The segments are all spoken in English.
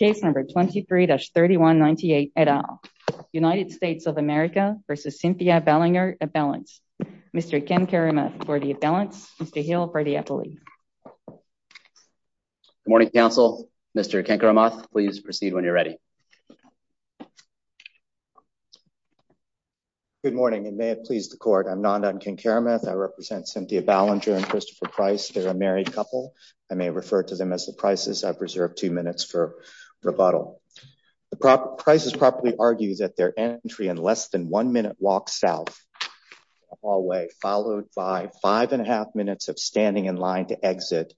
a balance. Mr Ken Karamath for the balance. Mr Hill for the appellate. Good morning, Council. Mr Ken Karamath. Please proceed when you're ready. Good morning and may it please the court. I'm Nandan Ken Karamath. I represent Cynthia Ballenger and Christopher Price. They're a married couple. I may refer to them as the Price's. I've reserved 2 minutes for a brief introduction. Rebuttal. The Price's probably argued that their entry in less than 1 minute walk south of the hallway followed by 5 and a half minutes of standing in line to exit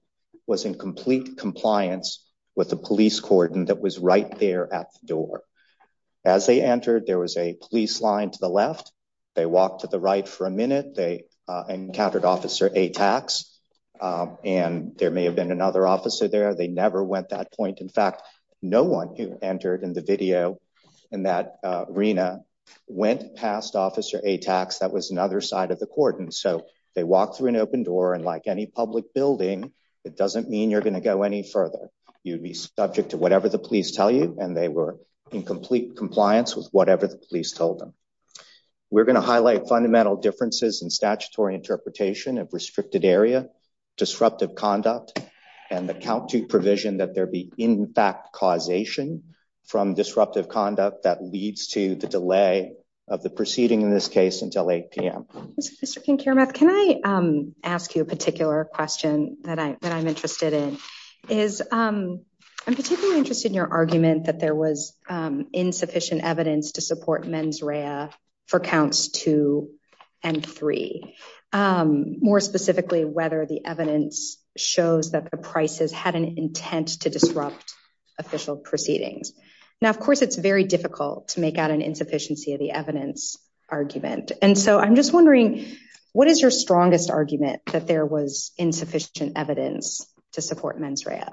was in complete compliance with the police cordon that was right there at the door. As they entered, there was a police line to the left. They walked to the right for a minute. They encountered Officer Atax and there may have been another officer there. They never went that point. In fact, no one who entered in the video in that arena went past Officer Atax. That was another side of the cordon. So they walked through an open door and like any public building, it doesn't mean you're going to go any further. You'd be subject to whatever the police tell you and they were in complete compliance with whatever the police told them. We're going to highlight fundamental differences in statutory interpretation of restricted area, disruptive conduct, and the count to provision that there be impact causation from disruptive conduct that leads to the delay of the proceeding in this case until 8 p.m. Mr. King-Kiramath, can I ask you a particular question that I'm interested in? I'm particularly interested in your argument that there was insufficient evidence to support mens rea for counts two and three, more specifically whether the evidence shows that the prices had an intent to disrupt official proceedings. Now, of course, it's very difficult to make out an insufficiency of the evidence argument. And so I'm just wondering, what is your strongest argument that there was insufficient evidence to support mens rea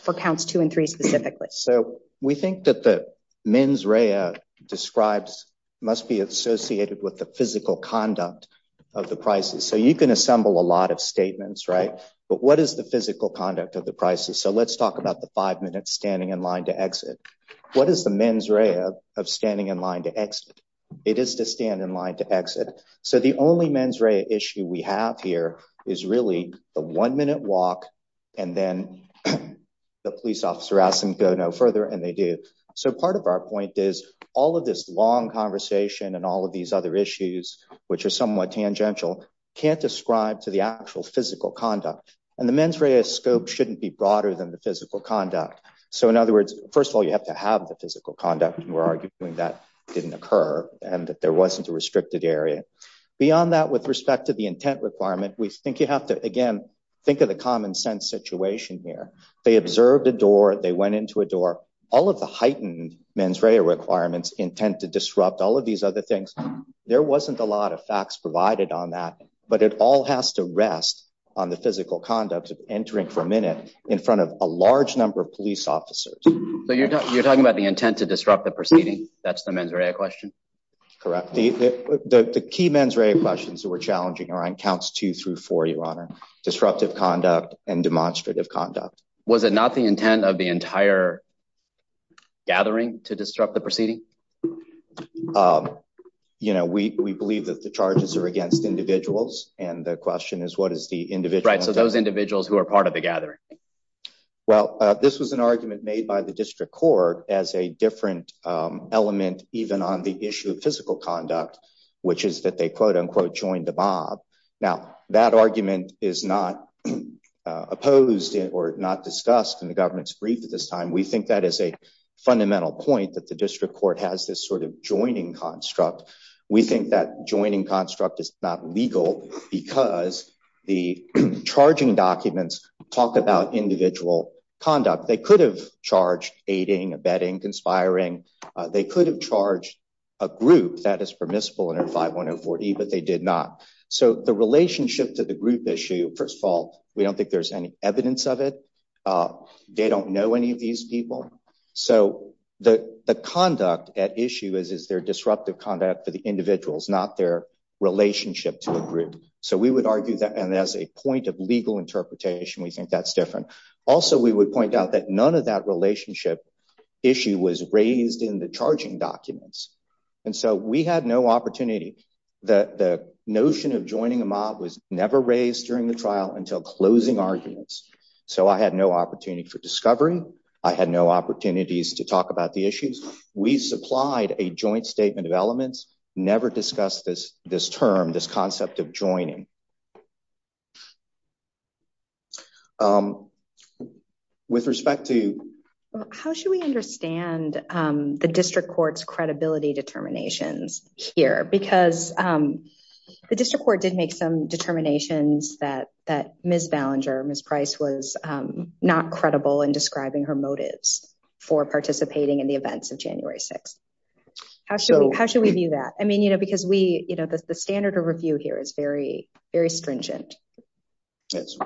for counts two and three specifically? So we think that the mens rea describes must be associated with the physical conduct of the prices. So you can assemble a lot of statements, right? But what is the physical conduct of the prices? So let's talk about the five minutes standing in line to exit. What is the mens rea of standing in line to exit? It is to stand in line to exit. So the only mens rea issue we have here is really the one minute walk and then the police officer asks them to go no further and they do. So part of our point is all of this long conversation and all of these other issues, which are somewhat tangential, can't describe to the actual physical conduct and the mens rea scope shouldn't be broader than the physical conduct. So in other words, first of all, you have to have the physical conduct and we're arguing that didn't occur and that there wasn't a restricted area. Beyond that, with respect to the intent requirement, we think you have to, again, think of the common sense situation here. They observed a door, they went into a door, all of the heightened mens rea requirements intent to disrupt all of these other things. There wasn't a lot of facts provided on that, but it all has to rest on the physical conduct of entering for a minute in front of a large number of police officers. So you're talking about the intent to disrupt the proceeding. That's the mens rea question. Correct. The key mens rea questions that we're challenging are on counts two through four, your honor. Disruptive conduct and demonstrative conduct. Was it not the intent of the entire gathering to disrupt the proceeding? Um, you know, we we believe that the charges are against individuals and the question is, what is the individual right? So those individuals who are part of the gathering? Well, this was an argument made by the district court as a different element even on the issue of physical conduct, which is that they quote unquote joined the mob. Now, that argument is not opposed or not discussed in the government's brief at this time. We think that is a fundamental point that the district court has this sort of joining construct. We think that joining construct is not legal because the charging documents talk about individual conduct. They could have charged aiding, abetting, conspiring. They could have charged a group that is permissible under 51040, but they did not. So the relationship to the group issue, first of all, we don't think there's any evidence of it. Uh, they don't know any of these people. So the the conduct at issue is, is their disruptive conduct for the individuals, not their relationship to a group. So we would argue that and as a point of legal interpretation, we think that's different. Also, we would point out that none of that relationship issue was raised in the charging documents. And so we had no opportunity that the notion of joining a mob was never raised during the trial until closing arguments. So I had no opportunity for discovery. I had no opportunities to talk about the issues. We supplied a joint statement of elements, never discussed this, this term, this concept of joining. Um, with respect to how should we understand, um, the district court's credibility determinations here? Because, um, the district court did make some determinations that, that Ms. Ballinger, Ms. Price was, um, not credible in describing her motives for participating in the events of January 6th. How should we, how should we view that? I mean, you know, because we, you know, the standard of review here is very, very stringent. Yes.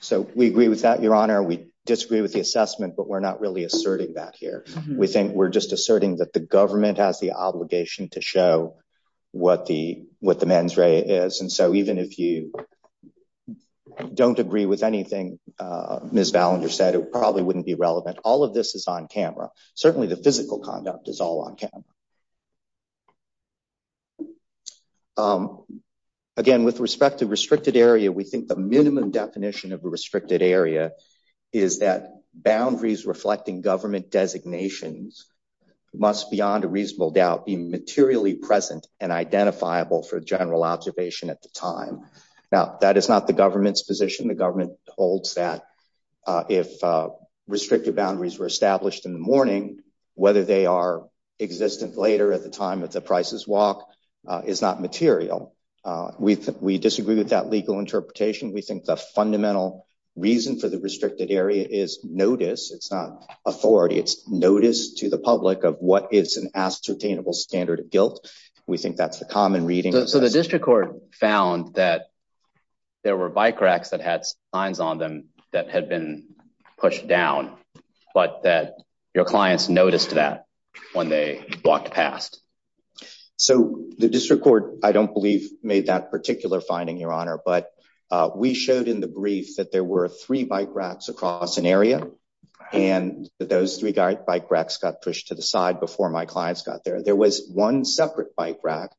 So we agree with that, your honor. We disagree with the assessment, but we're not really asserting that here. We think we're just asserting that the government has the obligation to show what the, what the mens rea is. And so even if you don't agree with anything, uh, Ms. Ballinger said, it probably wouldn't be relevant. All of this is on camera. Certainly the physical conduct is all on camera. Um, again, with respect to restricted area, we think the minimum definition of a restricted area is that boundaries reflecting government designations must beyond a reasonable doubt be materially present and identifiable for general observation at the time. Now that is not the government's position. The government holds that, uh, if, uh, restrictive boundaries were established in the morning, whether they are existent later at the time of the prices walk, uh, is not material. Uh, we, we disagree with that legal interpretation. We think the fundamental reason for the restricted area is notice. It's not authority. It's notice to the public of what is an ascertainable standard of guilt. We think that's the common reading. So the district court found that there were bike racks that had signs on them that had been pushed down, but that your clients noticed that when they walked past. So the district court, I don't believe made that particular finding your honor, but, uh, we showed in the brief that there were three bike racks across an area and that those three guy bike racks got pushed to the side before my clients got there, there was one separate bike rack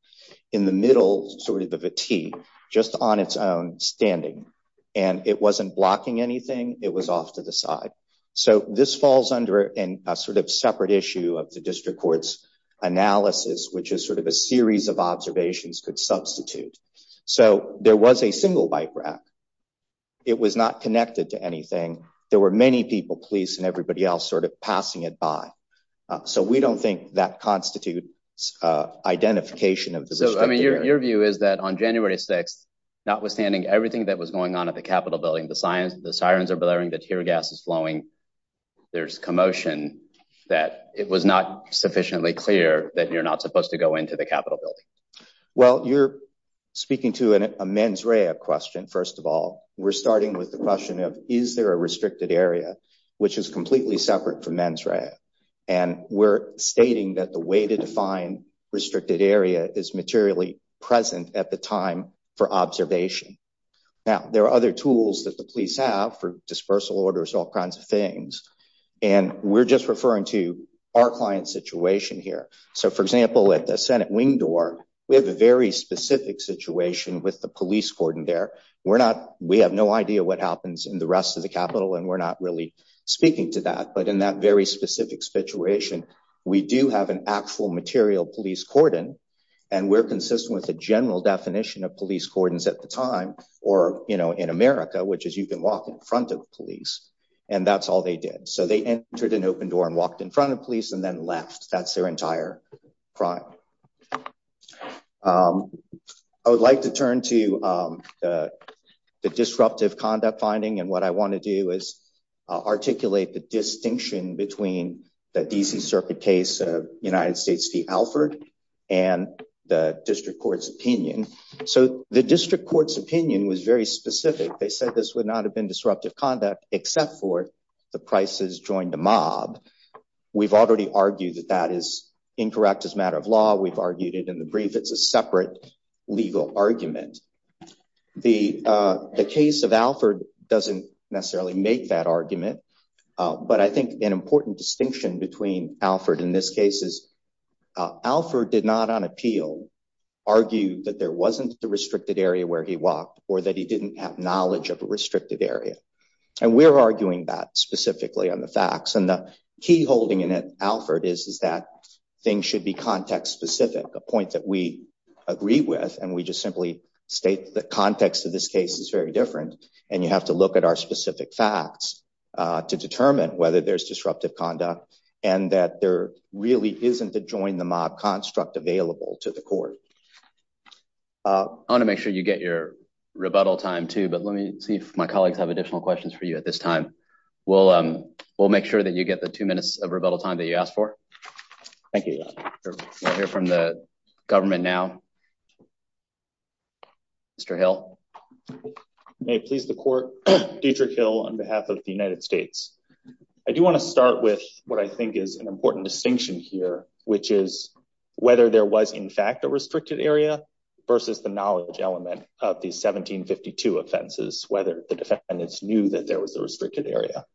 in the middle, sort of a Vati just on its own standing and it wasn't blocking anything. It was off to the side. So this falls under a sort of separate issue of the district court's analysis, which is sort of a series of observations could substitute. So there was a single bike rack. It was not connected to anything. There were many people, police and everybody else sort of passing it by. So we don't think that constitutes identification of your view is that on January 6th, notwithstanding everything that was going on at the Capitol building, the science, the sirens are blaring that tear gas is flowing. There's commotion that it was not sufficiently clear that you're not supposed to go into the Capitol building. Well, you're speaking to a mens rea question. First of all, we're starting with the is there a restricted area, which is completely separate from men's right? And we're stating that the way to define restricted area is materially present at the time for observation. Now there are other tools that the police have for dispersal orders, all kinds of things. And we're just referring to our client situation here. So for example, at the Senate wing door, we have a very specific situation with the police cordon there. We're not, we have no idea what happens in the rest of the Capitol, and we're not really speaking to that. But in that very specific situation, we do have an actual material police cordon, and we're consistent with the general definition of police cordons at the time, or you know, in America, which is you can walk in front of police, and that's all they did. So they entered an open door and walked in front of police and then left. That's their entire crime. I would like to turn to the disruptive conduct finding, and what I want to do is articulate the distinction between the D.C. Circuit case of United States v. Alford and the district court's opinion. So the district court's opinion was very specific. They said this would not have been disruptive conduct except for the prices joined the mob. We've already argued that that is incorrect as a matter of law. We've argued it in the brief. It's a legal argument. The case of Alford doesn't necessarily make that argument, but I think an important distinction between Alford in this case is Alford did not on appeal argue that there wasn't a restricted area where he walked or that he didn't have knowledge of a restricted area, and we're arguing that specifically on the facts, and the key holding in it, Alford, is that things should be context specific, a agree with, and we just simply state the context of this case is very different, and you have to look at our specific facts to determine whether there's disruptive conduct and that there really isn't a join the mob construct available to the court. I want to make sure you get your rebuttal time too, but let me see if my colleagues have additional questions for you at this time. We'll make sure that you get the two minutes of rebuttal time that you asked for. Thank you. We'll go to government now. Mr. Hill. May it please the court, Dietrich Hill on behalf of the United States. I do want to start with what I think is an important distinction here, which is whether there was in fact a restricted area versus the knowledge element of the 1752 offenses, whether the defendants knew that there was a restricted area.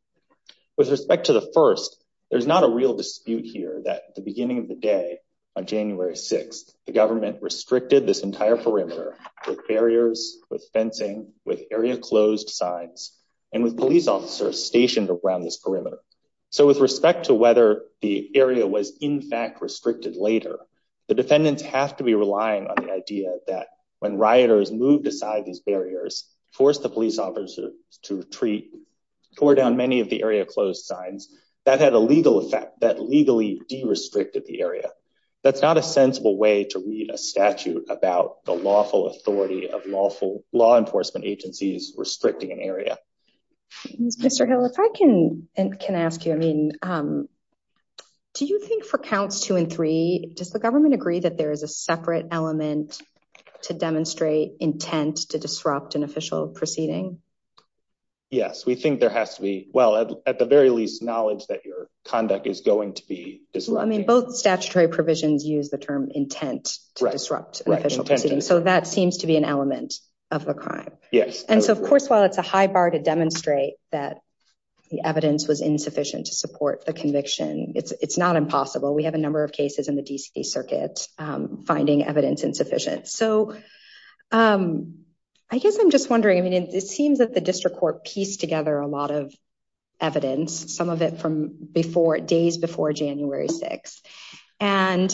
With respect to the first, there's not a real dispute here that the day on January 6th, the government restricted this entire perimeter with barriers with fencing with area closed signs and with police officers stationed around this perimeter. So with respect to whether the area was in fact restricted later, the defendants have to be relying on the idea that when rioters moved aside, these barriers forced the police officers to retreat tore down many of the area closed signs that had a legal effect that legally de-restricted the area. That's not a sensible way to read a statute about the lawful authority of lawful law enforcement agencies restricting an area. Mr. Hill, if I can ask you, I mean, do you think for counts two and three, does the government agree that there is a separate element to demonstrate intent to disrupt an official proceeding? Yes, we think there has to be. Well, at the very least, knowledge that your conduct is going to be disrupted. I mean, both statutory provisions use the term intent to disrupt an official proceeding. So that seems to be an element of the crime. Yes. And so, of course, while it's a high bar to demonstrate that the evidence was insufficient to support the conviction, it's not impossible. We have a number of cases in the D.C. Circuit finding evidence insufficient. So I guess I'm just wondering, I mean, it seems that the district court pieced together a lot of evidence, some of it from before, days before January 6th. And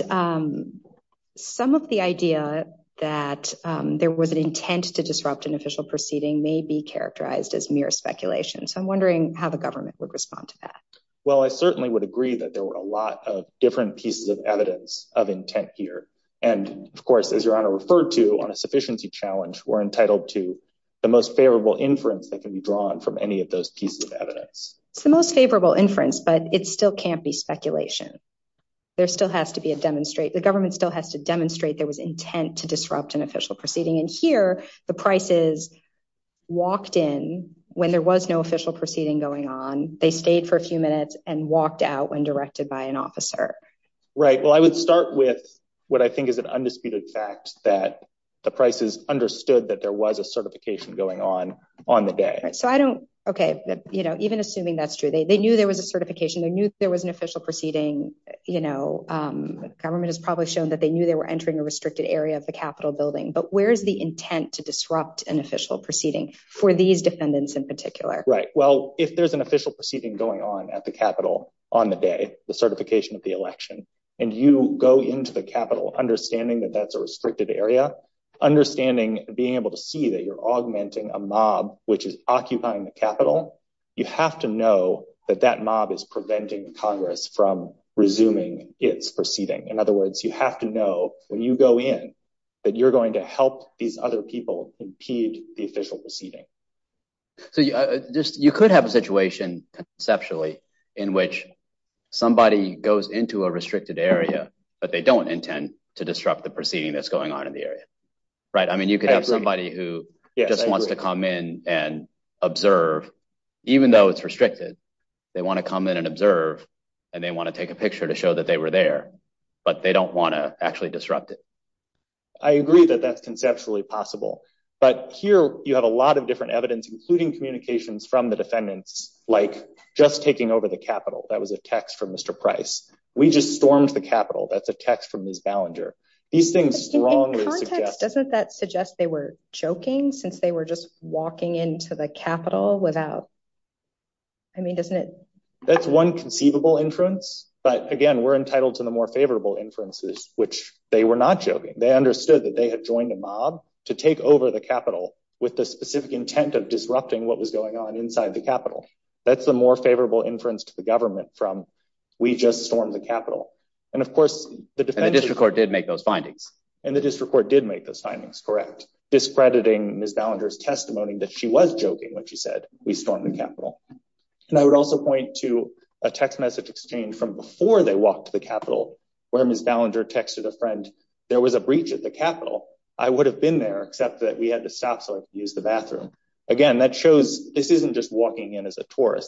some of the idea that there was an intent to disrupt an official proceeding may be characterized as mere speculation. So I'm wondering how the government would respond to that. Well, I certainly would agree that there were a lot of different pieces of evidence of intent here. And of course, as your honor referred to on a sufficiency challenge, we're entitled to the most favorable inference that can be drawn from any of those pieces of evidence. It's the most favorable inference, but it still can't be speculation. There still has to be a demonstrate. The government still has to demonstrate there was intent to disrupt an official proceeding. And here the prices walked in when there was no official proceeding going on. They stayed for a few minutes and walked out when directed by an officer. Right. Well, I would start with what I think is an undisputed fact that the prices understood that there was a certification going on on the day. Right. So I don't. Okay. You know, even assuming that's true, they knew there was a certification. They knew there was an official proceeding. You know, government has probably shown that they knew they were entering a restricted area of the Capitol building. But where's the intent to disrupt an official proceeding for these defendants in particular? Right. Well, if there's an official proceeding going on at the Capitol on the day, the certification of the election and you go into the Capitol, understanding that that's a area, understanding being able to see that you're augmenting a mob, which is occupying the Capitol. You have to know that that mob is preventing Congress from resuming its proceeding. In other words, you have to know when you go in that you're going to help these other people impede the official proceeding. So just you could have a situation conceptually in which somebody goes into a restricted area, but they don't intend to disrupt the proceeding that's going on in the area. Right. I mean, you could have somebody who just wants to come in and observe, even though it's restricted, they want to come in and observe and they want to take a picture to show that they were there, but they don't want to actually disrupt it. I agree that that's conceptually possible, but here you have a lot of different evidence, including communications from the defendants, like just taking over the Capitol. That was a text from Mr. Price. We just stormed the Capitol. That's a text from Ms. Ballinger. These things strongly suggest. Doesn't that suggest they were joking since they were just walking into the Capitol without, I mean, doesn't it? That's one conceivable inference, but again, we're entitled to the more favorable inferences, which they were not joking. They understood that they had joined a mob to take over the Capitol with the specific intent of disrupting what was going on inside the Capitol. That's the more favorable inference to the government from, we just stormed the Capitol. And of course, the defense. And the district court did make those findings. And the district court did make those findings correct, discrediting Ms. Ballinger's testimony that she was joking when she said, we stormed the Capitol. And I would also point to a text message exchange from before they walked to the Capitol, where Ms. Ballinger texted a friend, there was a breach at the Capitol. I would have been there, except that we had to stop so I could use the bathroom. Again, that shows this isn't just walking in as a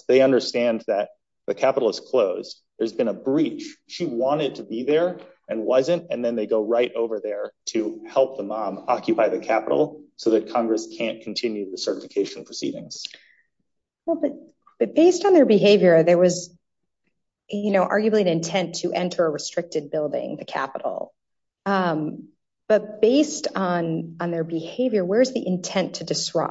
They understand that the Capitol is closed. There's been a breach. She wanted to be there and wasn't, and then they go right over there to help the mob occupy the Capitol so that Congress can't continue the certification proceedings. Well, but based on their behavior, there was, you know, arguably an intent to enter a restricted building, the Capitol. But based on their behavior, where's the intent to So,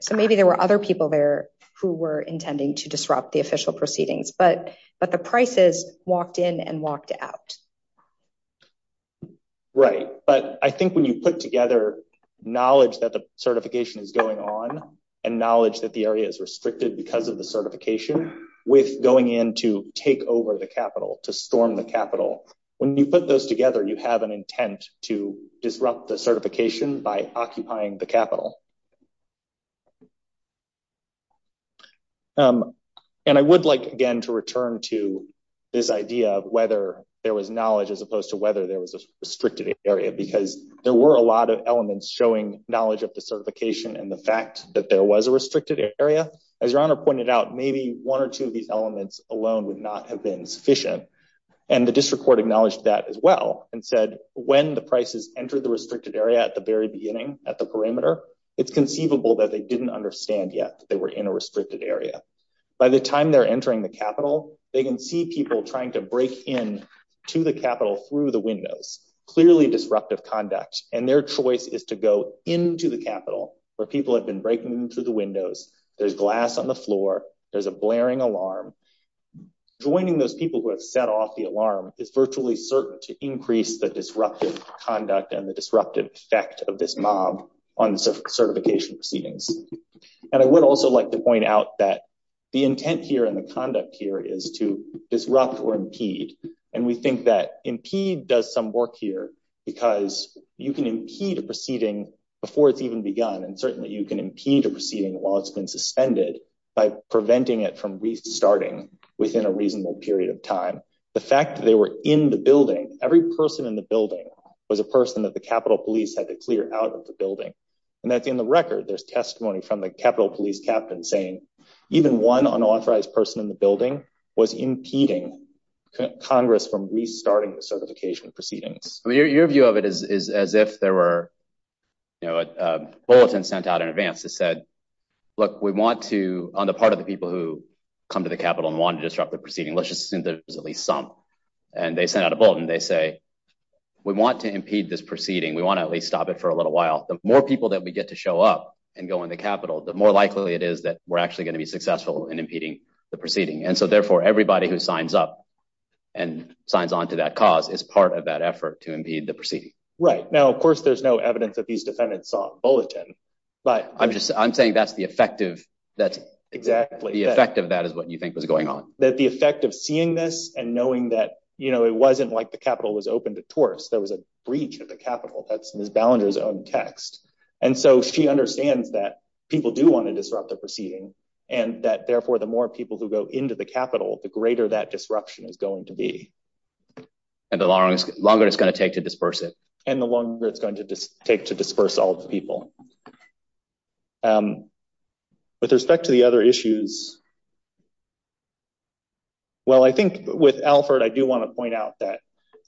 so maybe there were other people there who were intending to disrupt the official proceedings, but, but the prices walked in and walked out. Right. But I think when you put together knowledge that the certification is going on and knowledge that the area is restricted because of the certification with going in to take over the Capitol to storm the Capitol, when you put those together, you have an intent to disrupt the certification by occupying the Capitol. And I would like again to return to this idea of whether there was knowledge as opposed to whether there was a restricted area because there were a lot of elements showing knowledge of the certification and the fact that there was a restricted area, as your honor pointed out, maybe one or two of these elements alone would not have been sufficient. And the district court acknowledged that as well and said, when the entered the restricted area at the very beginning at the perimeter, it's conceivable that they didn't understand yet they were in a restricted area. By the time they're entering the Capitol, they can see people trying to break in to the Capitol through the windows, clearly disruptive conduct, and their choice is to go into the Capitol where people have been breaking through the windows. There's glass on the floor. There's a blaring alarm. Joining those people who have set off the alarm is virtually to increase the disruptive conduct and the disruptive effect of this mob on certification proceedings. And I would also like to point out that the intent here and the conduct here is to disrupt or impede. And we think that impede does some work here because you can impede a proceeding before it's even begun. And certainly you can impede a proceeding while it's been suspended by preventing it from restarting within a reasonable period of time. The they were in the building. Every person in the building was a person that the Capitol Police had to clear out of the building. And that's in the record. There's testimony from the Capitol Police captain saying even one unauthorized person in the building was impeding Congress from restarting the certification proceedings. Your view of it is as if there were, you know, a bulletin sent out in advance that said, look, we want to, on the part of the people who come to the Capitol and want to disrupt the proceeding, let's assume there's at least some. And they sent out a bulletin. They say, we want to impede this proceeding. We want to at least stop it for a little while. The more people that we get to show up and go in the Capitol, the more likely it is that we're actually going to be successful in impeding the proceeding. And so therefore everybody who signs up and signs onto that cause is part of that effort to impede the proceeding. Right now, of course, there's no evidence that these defendants saw bulletin, but I'm just, I'm saying that's the effective. That's exactly the effect of that is what you was going on, that the effect of seeing this and knowing that, you know, it wasn't like the Capitol was open to tourists. There was a breach of the Capitol. That's Ms. Ballinger's own text. And so she understands that people do want to disrupt the proceeding and that therefore the more people who go into the Capitol, the greater that disruption is going to be. And the longer it's going to take to disperse it and the longer it's going to take to disperse all the people. With respect to the other issues. Well, I think with Alford, I do want to point out that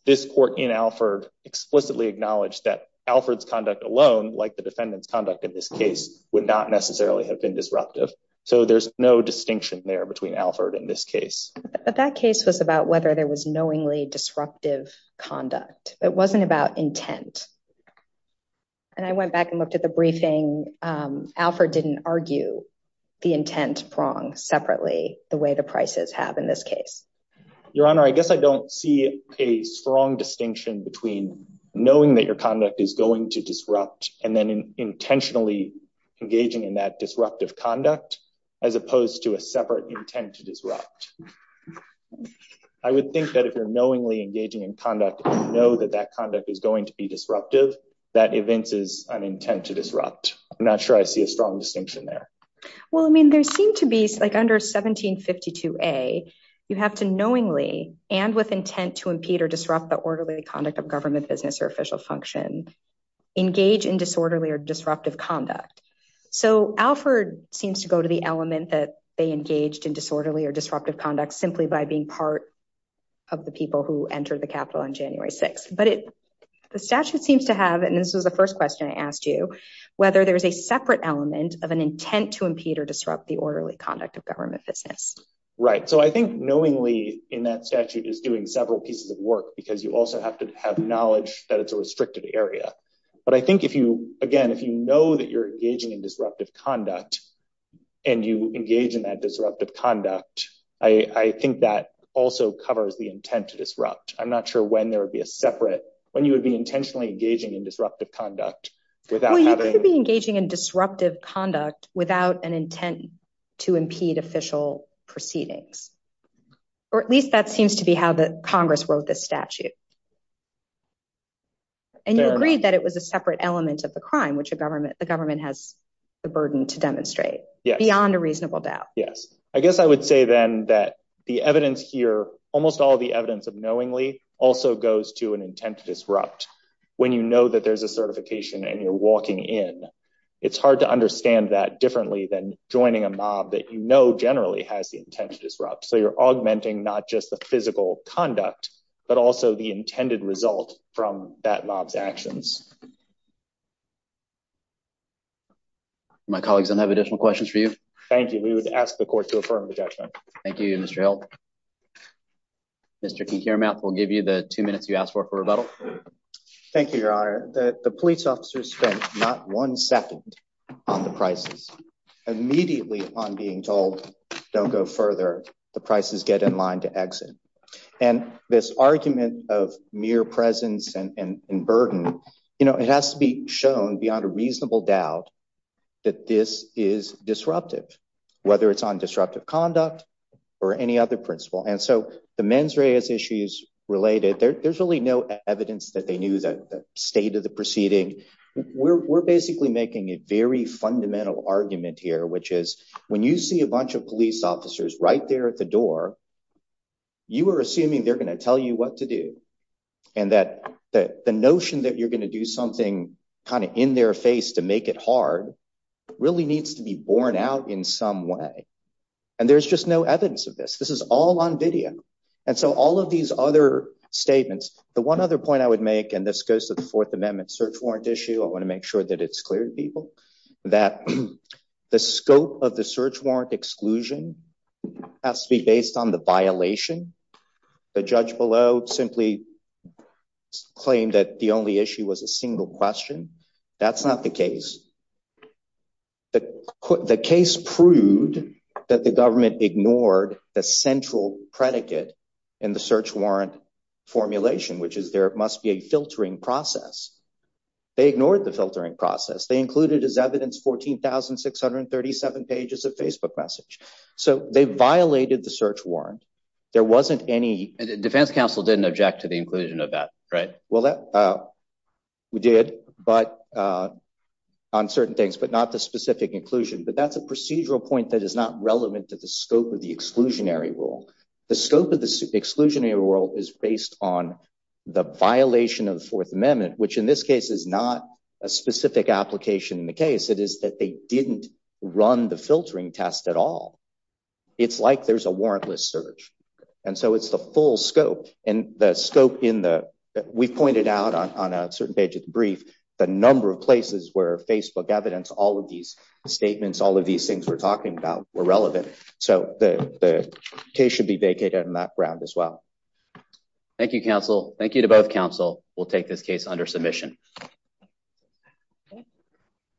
this court in Alford explicitly acknowledged that Alford's conduct alone, like the defendant's conduct in this case would not necessarily have been disruptive. So there's no distinction there between Alford in this case, but that case was about whether there was knowingly disruptive conduct, but it wasn't about intent. And I went back and looked at the briefing. Alford didn't argue the intent wrong separately, the way the prices have in this case. Your Honor, I guess I don't see a strong distinction between knowing that your conduct is going to disrupt and then intentionally engaging in that disruptive conduct as opposed to a separate intent to disrupt. I would think that if you're knowingly engaging in conduct, you know that that is going to be disruptive. That event is an intent to disrupt. I'm not sure I see a strong distinction there. Well, I mean, there seemed to be like under 1752A, you have to knowingly and with intent to impede or disrupt the orderly conduct of government business or official function, engage in disorderly or disruptive conduct. So Alford seems to go to the element that they engaged in disorderly or disruptive conduct simply by being part of the people who entered the Capitol on January 6th. But the statute seems to have, and this was the first question I asked you, whether there's a separate element of an intent to impede or disrupt the orderly conduct of government business. Right. So I think knowingly in that statute is doing several pieces of work because you also have to have knowledge that it's a restricted area. But I think if you, again, if you know that you're engaging in disruptive conduct and you engage in that disruptive conduct, I think that also covers the intent to disrupt. I'm not sure when there would be a separate, when you would be intentionally engaging in disruptive conduct without having... Well, you could be engaging in disruptive conduct without an intent to impede official proceedings. Or at least that seems to be how the Congress wrote this statute. And you agreed that it was a separate element of the crime, which the government has the burden to demonstrate beyond a reasonable doubt. Yes. I guess I would say then that the evidence here, almost all the evidence of knowingly also goes to an intent to disrupt. When you know that there's a certification and you're walking in, it's hard to understand that differently than joining a mob that you know generally has the intent to disrupt. So you're augmenting not just the physical conduct, but also the intended result from that mob's actions. My colleagues, I have additional questions for you. Thank you. We would ask the clerk to affirm the judgment. Thank you, Mr. Hill. Mr. Kekiramath will give you the two minutes you asked for, for rebuttal. Thank you, Your Honor. The police officers spent not one second on the prices. Immediately upon being told, don't go further, the prices get in line to exit. And this argument of mere presence and burden, it has to be shown beyond a reasonable doubt that this is disruptive, whether it's on disruptive conduct or any other principle. And so the mens reas issues related, there's really no evidence that they knew the state of the proceeding. We're basically making a very fundamental argument here, which is when you see a bunch of police officers right there at the door, you are assuming they're going to tell you what to do and that the notion that you're going to do something kind of in their face to make it hard really needs to be borne out in some way. And there's just no evidence of this. This is all on video. And so all of these other statements, the one other point I would make, and this goes to the Fourth Amendment search warrant issue, I want to make sure that it's clear to people that the scope of the search warrant exclusion has to be based on the violation. The judge below simply claimed that the only issue was a single question. That's not the case. The case proved that the government ignored the central predicate in the search warrant formulation, which is there must be a filtering process. They ignored the filtering process. They included as evidence 14,637 pages of Facebook message. So they violated the search warrant. There wasn't any defense counsel didn't object to the Well, that we did, but on certain things, but not the specific inclusion. But that's a procedural point that is not relevant to the scope of the exclusionary rule. The scope of the exclusionary rule is based on the violation of the Fourth Amendment, which in this case is not a specific application. In the case, it is that they didn't run the filtering test at all. It's like there's a warrantless search. And so it's the full scope and the scope in the we've pointed out on a certain page of the brief, the number of places where Facebook evidence, all of these statements, all of these things we're talking about were relevant. So the case should be vacated on that ground as well. Thank you, counsel. Thank you to both counsel. We'll take this case under submission.